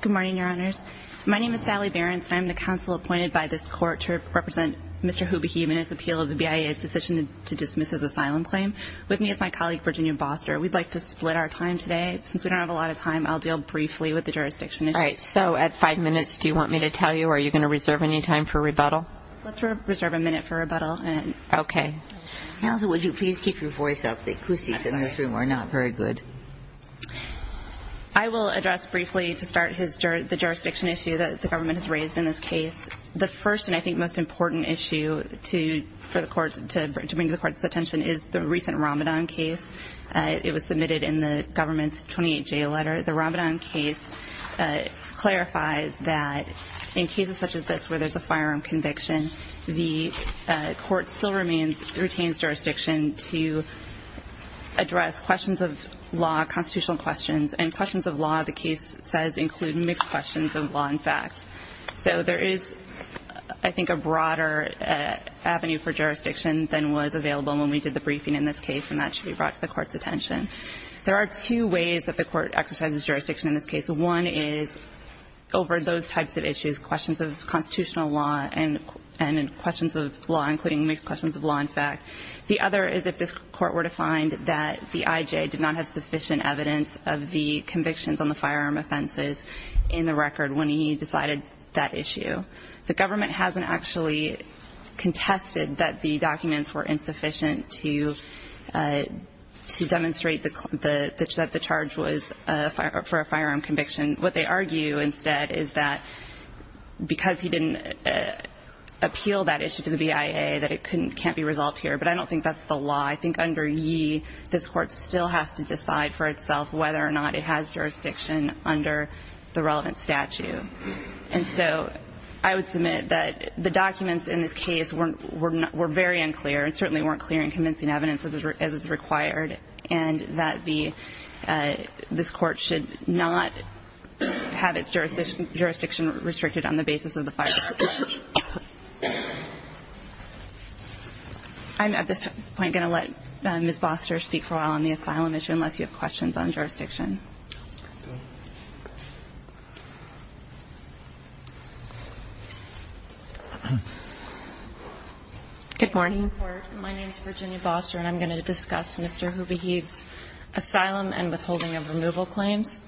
Good morning, your honors. My name is Sally Behrens and I'm the counsel appointed by this court to represent Mr. Hubahib in his appeal of the BIA's decision to dismiss his asylum claim. With me is my colleague, Virginia Boster. We'd like to split our time today. Since we don't have a lot of time, I'll deal briefly with the jurisdiction issue. All right, so at five minutes, do you want me to tell you? Are you going to reserve any time for rebuttal? Let's reserve a minute for rebuttal. Okay. Counsel, would you please keep your voice up? The acoustics in this room are not very good. I will address briefly, to start, the jurisdiction issue that the government has raised in this case. The first and, I think, most important issue to bring to the court's attention is the recent Ramadan case. It was submitted in the government's 28-J letter. The Ramadan case clarifies that in cases such as this where there's a firearm conviction, the court still retains jurisdiction to address questions of law, constitutional questions. And questions of law, the case says, include mixed questions of law and fact. So there is, I think, a broader avenue for jurisdiction than was available when we did the briefing in this case, and that should be brought to the court's attention. There are two ways that the court exercises jurisdiction in this case. One is over those types of issues, questions of constitutional law and questions of law, including mixed questions of law and fact. The other is if this court were to find that the I.J. did not have sufficient evidence of the convictions on the firearm offenses in the record when he decided that issue. The government hasn't actually contested that the documents were insufficient to demonstrate that the charge was for a firearm conviction. What they argue instead is that because he didn't appeal that issue to the BIA that it can't be resolved here. But I don't think that's the law. I think under ye, this court still has to decide for itself whether or not it has jurisdiction under the relevant statute. And so I would submit that the documents in this case were very unclear and certainly weren't clear in convincing evidence as is required, and that this court should not have its jurisdiction restricted on the basis of the firearm charge. I'm at this point going to let Ms. Boster speak for a while on the asylum issue unless you have questions on jurisdiction. Good morning. My name is Virginia Boster, and I'm going to discuss Mr. Hoovey Heves' asylum and withholding of removal claims.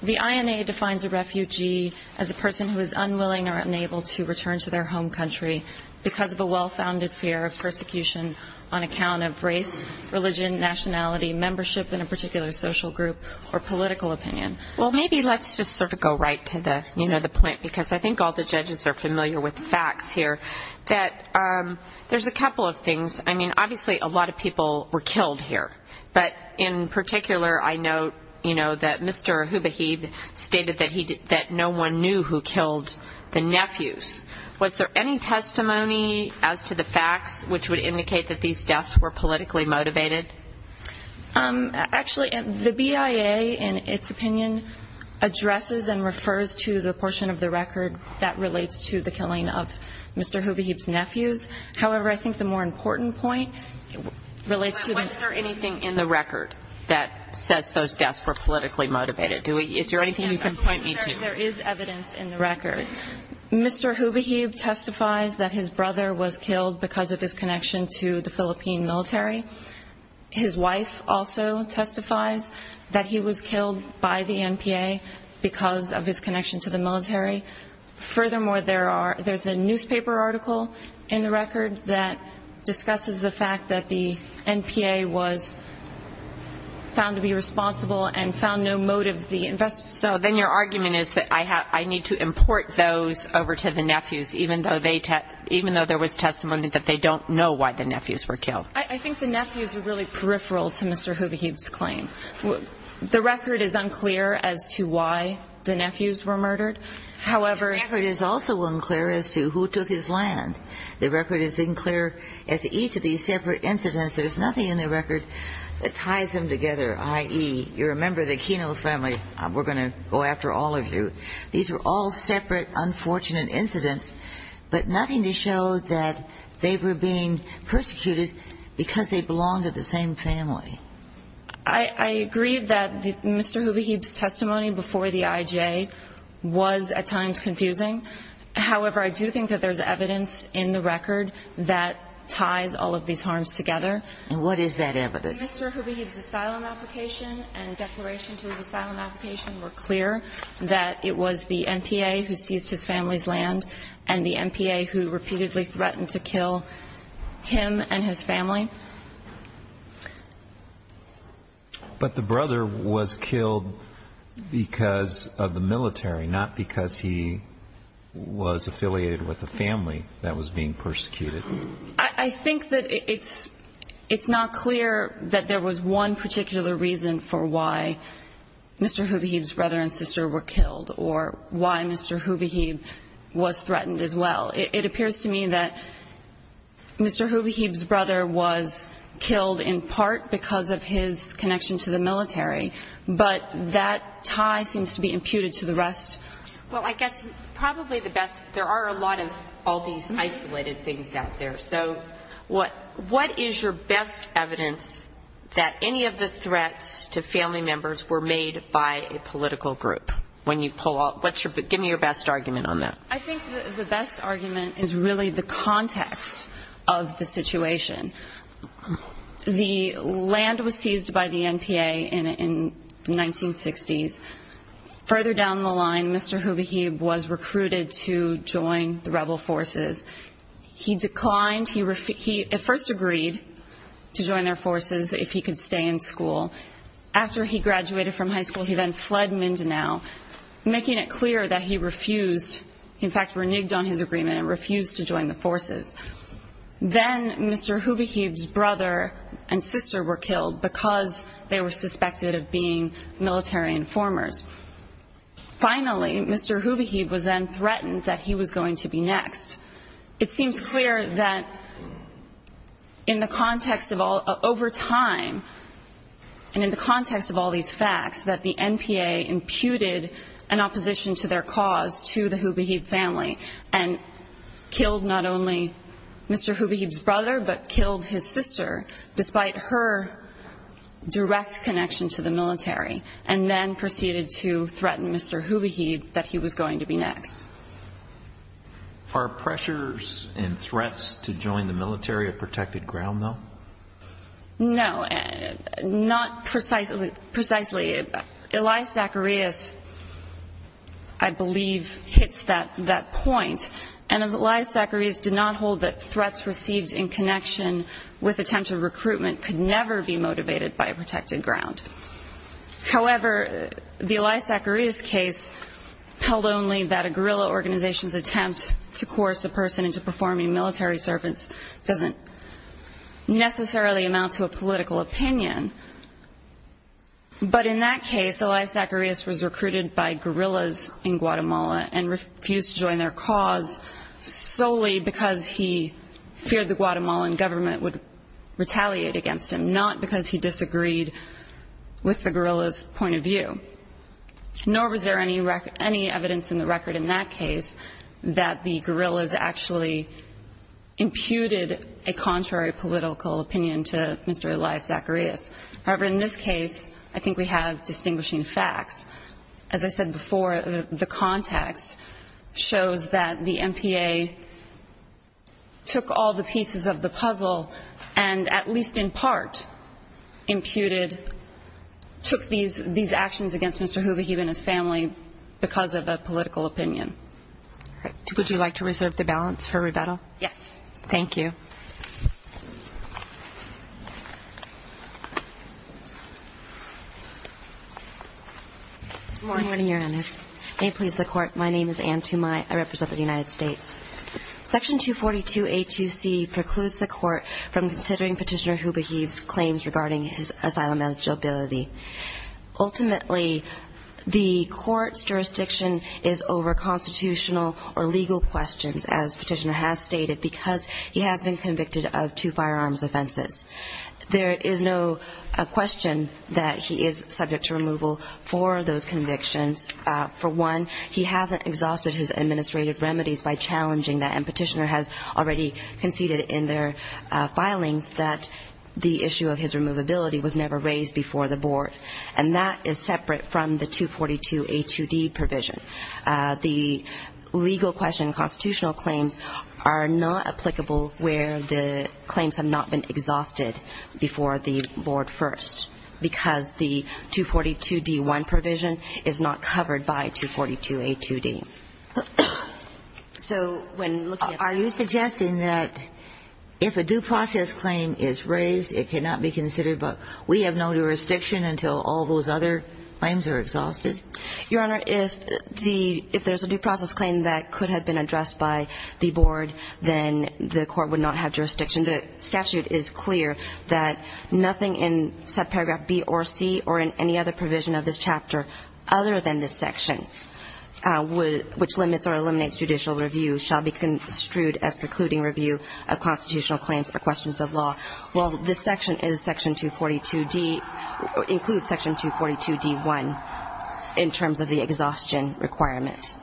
The INA defines a refugee as a person who is unwilling or unable to return to their home country because of a well-founded fear of persecution on account of race, religion, nationality, membership in a particular social group, or political opinion. Well, maybe let's just sort of go right to the, you know, the point, because I think all the judges are familiar with the facts here, that there's a couple of things. I mean, obviously, a lot of people were killed here. But in particular, I know, you know, that Mr. Hoovey Heves stated that no one knew who killed the nephews. Was there any testimony as to the facts which would indicate that these deaths were politically motivated? Actually, the BIA, in its opinion, addresses and refers to the portion of the record that relates to the killing of Mr. Hoovey Heves' nephews. However, I think the more important point relates to the... But wasn't there anything in the record that says those deaths were politically motivated? Is there anything you can point me to? There is evidence in the record. Mr. Hoovey Heves testifies that his brother was killed because of his connection to the Philippine military. His wife also testifies that he was killed by the NPA because of his connection to the military. Furthermore, there's a newspaper article in the record that discusses the fact that the NPA was found to be responsible and found no motive to investigate. So then your argument is that I need to import those over to the nephews, even though there was testimony that they don't know why the nephews were killed. I think the nephews are really peripheral to Mr. Hoovey Heves' claim. The record is unclear as to why the nephews were murdered. However... The record is also unclear as to who took his land. The record is unclear as to each of these separate incidents. There's nothing in the record that ties them together, i.e. you're a member of the Keno family. We're going to go after all of you. These were all separate, unfortunate incidents, but nothing to show that they were being persecuted because they belonged to the same family. I agree that Mr. Hoovey Heves' testimony before the IJ was at times confusing. However, I do think that there's evidence in the record that ties all of these harms together. And what is that evidence? Mr. Hoovey Heves' asylum application and declaration to his asylum application were clear that it was the MPA who seized his family's land and the MPA who repeatedly threatened to kill him and his family. But the brother was killed because of the military, not because he was affiliated with the family that was being persecuted. I think that it's not clear that there was one particular reason for why Mr. Hoovey Heves' brother and sister were killed or why Mr. Hoovey Heves was threatened as well. It appears to me that Mr. Hoovey Heves' brother was killed in part because of his connection to the military, but that tie seems to be imputed to the rest. Well, I guess probably the best, there are a lot of all these isolated things out there. So what is your best evidence that any of the threats to family members were made by a political group? When you pull out, what's your, give me your best argument on that. I think the best argument is really the context of the situation. The land was seized by the MPA in the 1960s. Further down the line, Mr. Hoovey Heves was recruited to join the rebel forces. He declined, he at first agreed to join their forces if he could stay in school. After he graduated from high school, he then fled Mindanao, making it clear that he refused, in fact, reneged on his agreement and refused to join the forces. Then Mr. Hoovey Heves' brother and sister were killed because they were suspected of being military informers. Finally, Mr. Hoovey Heves was then threatened that he was going to be next. It seems clear that in the context of all, over time, and in the context of all these facts, that the MPA imputed an opposition to their cause to the Hoovey Heves family and killed not only Mr. Hoovey Heves' brother, but killed his sister, despite her direct connection to the military, and then proceeded to threaten Mr. Hoovey Heves that he was going to be next. Are pressures and threats to join the military a protected ground, though? No, not precisely. Elias Zacharias, I believe, hits that point. And Elias Zacharias did not hold that threats received in connection with attempts of recruitment could never be motivated by a protected ground. However, the Elias Zacharias case held only that a guerrilla organization's attempt to coerce a person into performing military service doesn't necessarily amount to a political opinion. But in that case, Elias Zacharias was recruited by guerrillas in Guatemala and refused to join their cause solely because he feared the Guatemalan government would retaliate against him, not because he disagreed with the guerrilla's point of view. Nor was there any evidence in the record in that case that the guerrillas actually imputed a contrary political opinion to Mr. Elias Zacharias. However, in this case, I think we have distinguishing facts. As I said before, the context shows that the MPA took all the pieces of the puzzle and, at least in part, imputed, took these actions against Mr. Hubichieff and his family because of a political opinion. Would you like to reserve the balance for rebuttal? Yes. Thank you. Good morning, Your Honors. May it please the Court. My name is Anne Tumai. I represent the United States. Section 242A2C precludes the Court from considering Petitioner Hubichieff's claims regarding his asylum eligibility. Ultimately, the Court's jurisdiction is over constitutional or legal questions, as Petitioner has stated, because he has been convicted of two firearms offenses. There is no question that he is subject to removal for those convictions. For one, he hasn't exhausted his administrative remedies by challenging that, and Petitioner has already conceded in their filings that the issue of his removability was never raised before the Board, and that is separate from the 242A2D provision. The legal question constitutional claims are not applicable where the claims have not been exhausted before the Board first, because the 242D1 provision is not covered by 242A2D. Are you suggesting that if a due process claim is raised, it cannot be considered, but we have no jurisdiction until all those other claims are exhausted? Your Honor, if there's a due process claim that could have been addressed by the Board, then the Court would not have jurisdiction. The statute is clear that nothing in subparagraph B or C or in any other provision of this chapter, other than this section, which limits or eliminates judicial review, shall be construed as precluding review of constitutional claims or questions of law. Well, this section is section 242D, includes section 242D1, in terms of the exhaustion requirement.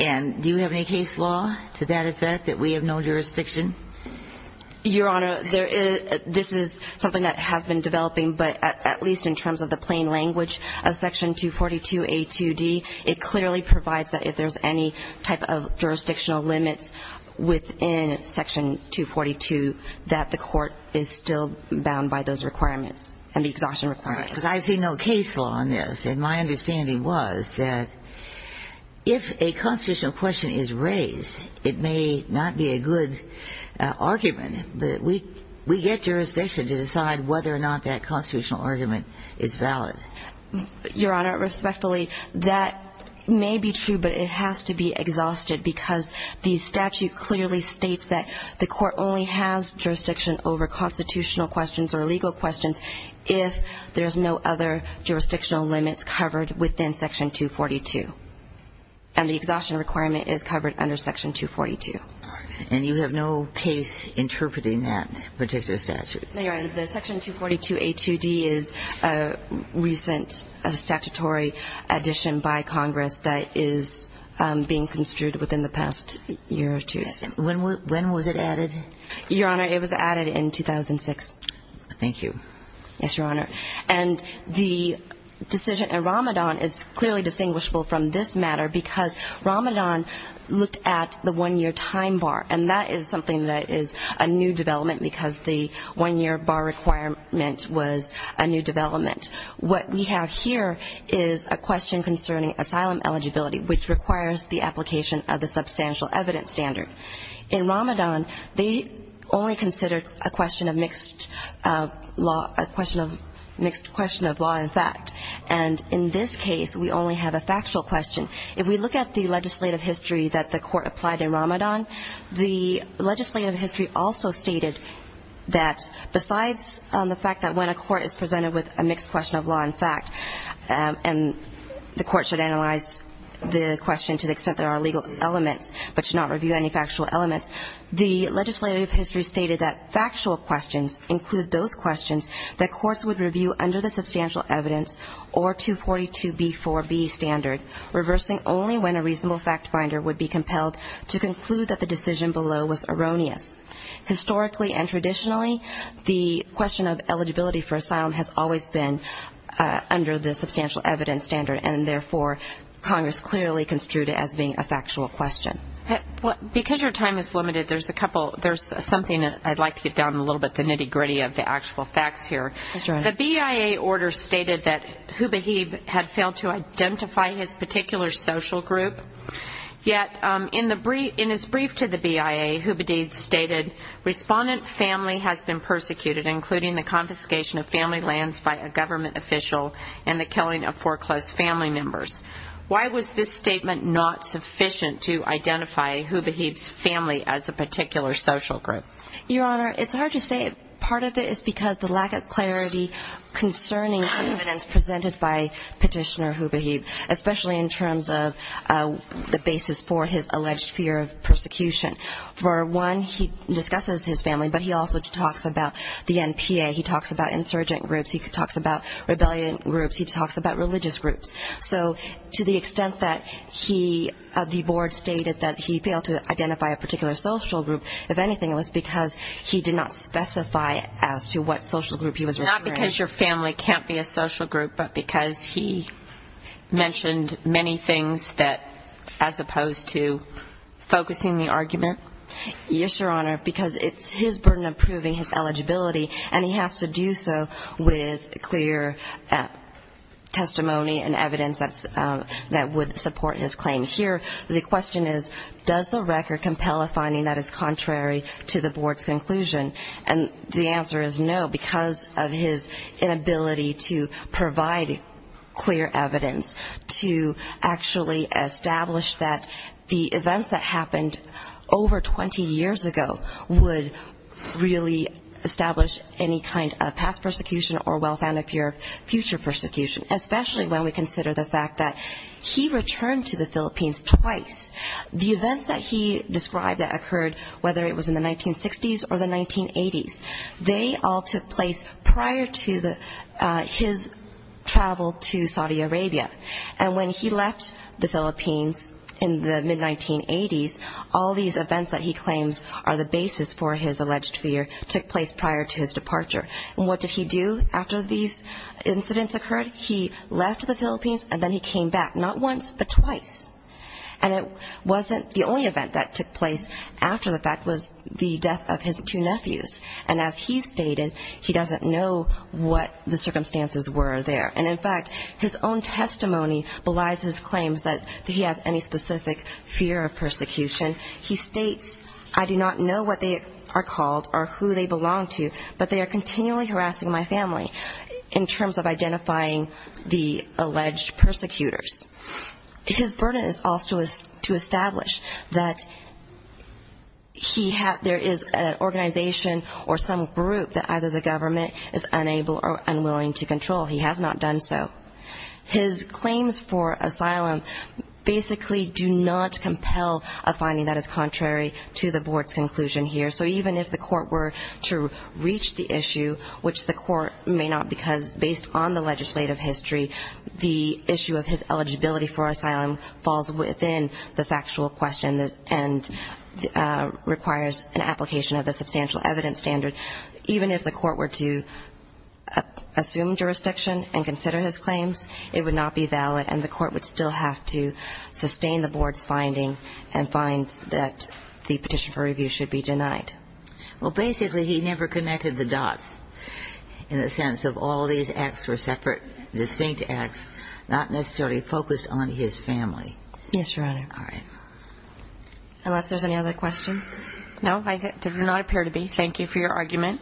And do you have any case law to that effect that we have no jurisdiction? Your Honor, this is something that has been developing, but at least in terms of the plain language of section 242A2D, it clearly provides that if there's any type of jurisdictional limits within section 242, that the Court is still bound by those requirements and the exhaustion requirements. I've seen no case law on this, and my understanding was that if a constitutional question is raised, it may not be a good argument. But we get jurisdiction to decide whether or not that constitutional argument is valid. Your Honor, respectfully, that may be true, but it has to be exhausted because the statute clearly states that the Court only has jurisdiction over constitutional questions or legal questions if there's no other jurisdictional limits covered within section 242. And the exhaustion requirement is covered under section 242. And you have no case interpreting that particular statute? No, Your Honor. The section 242A2D is a recent statutory addition by Congress that is being construed within the past year or two. When was it added? Your Honor, it was added in 2006. Thank you. Yes, Your Honor. And the decision in Ramadan is clearly distinguishable from this matter because Ramadan looked at the one-year time bar. And that is something that is a new development because the one-year bar requirement was a new development. What we have here is a question concerning asylum eligibility, which requires the application of the substantial evidence standard. In Ramadan, they only considered a question of mixed law, a question of mixed question of law and fact. And in this case, we only have a factual question. If we look at the legislative history that the Court applied in Ramadan, the legislative history also stated that besides the fact that when a court is presented with a mixed question of law and fact, and the Court should analyze the question to the extent there are legal elements, but should not review any factual elements, the legislative history stated that factual questions include those questions that courts would review under the substantial evidence or 242b4b standard, reversing only when a reasonable fact finder would be compelled to conclude that the decision below was erroneous. Historically and traditionally, the question of eligibility for asylum has always been under the substantial evidence standard, and therefore Congress clearly construed it as being a factual question. Because your time is limited, there's something I'd like to get down a little bit, the nitty-gritty of the actual facts here. That's right. The BIA order stated that Hubehieb had failed to identify his particular social group, yet in his brief to the BIA, Hubehied stated, respondent family has been persecuted, including the confiscation of family lands by a government official and the killing of foreclosed family members. Why was this statement not sufficient to identify Hubehied's family as a particular social group? Your Honor, it's hard to say. Part of it is because the lack of clarity concerning the evidence presented by Petitioner Hubehied, especially in terms of the basis for his alleged fear of persecution. For one, he discusses his family, but he also talks about the NPA. He talks about insurgent groups. He talks about rebellion groups. He talks about religious groups. So to the extent that he, the board stated that he failed to identify a particular social group, if anything it was because he did not specify as to what social group he was referring to. Not because your family can't be a social group, but because he mentioned many things that, as opposed to focusing the argument? Yes, Your Honor, because it's his burden of proving his eligibility, and he has to do so with clear testimony and evidence that would support his claim. Here the question is, does the record compel a finding that is contrary to the board's conclusion? And the answer is no, because of his inability to provide clear evidence to actually establish that the events that happened over 20 years ago would really establish any kind of past persecution or well-founded fear of future persecution, especially when we consider the fact that he returned to the Philippines twice. The events that he described that occurred, whether it was in the 1960s or the 1980s, they all took place prior to his travel to Saudi Arabia. And when he left the Philippines in the mid-1980s, all these events that he claims are the basis for his alleged fear took place prior to his departure. And what did he do after these incidents occurred? He left the Philippines and then he came back, not once, but twice. And it wasn't the only event that took place after the fact was the death of his two nephews. And as he stated, he doesn't know what the circumstances were there. And, in fact, his own testimony belies his claims that he has any specific fear of persecution. He states, I do not know what they are called or who they belong to, but they are continually harassing my family in terms of identifying the alleged persecutors. His burden is also to establish that he had or there is an organization or some group that either the government is unable or unwilling to control. He has not done so. His claims for asylum basically do not compel a finding that is contrary to the board's conclusion here. So even if the court were to reach the issue, which the court may not because based on the legislative history, the issue of his eligibility for asylum falls within the factual question and requires an application of the substantial evidence standard. Even if the court were to assume jurisdiction and consider his claims, it would not be valid and the court would still have to sustain the board's finding and find that the petition for review should be denied. Well, basically, he never connected the dots in the sense of all these acts were separate, distinct acts, not necessarily focused on his family. Yes, Your Honor. All right. Unless there's any other questions. No, there do not appear to be. Thank you for your argument.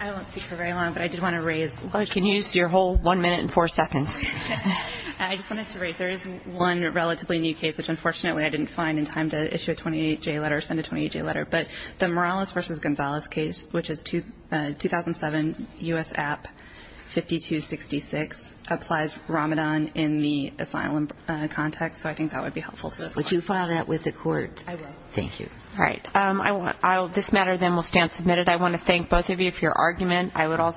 I won't speak for very long, but I did want to raise one. You can use your whole one minute and four seconds. I just wanted to raise there is one relatively new case, which unfortunately I didn't find in time to issue a 28-J letter or send a 28-J letter, but the Morales v. Gonzalez case, which is 2007 U.S. App 5266, applies Ramadan in the asylum context, so I think that would be helpful to us. Would you file that with the court? I will. Thank you. All right. This matter then will stand submitted. I want to thank both of you for your argument.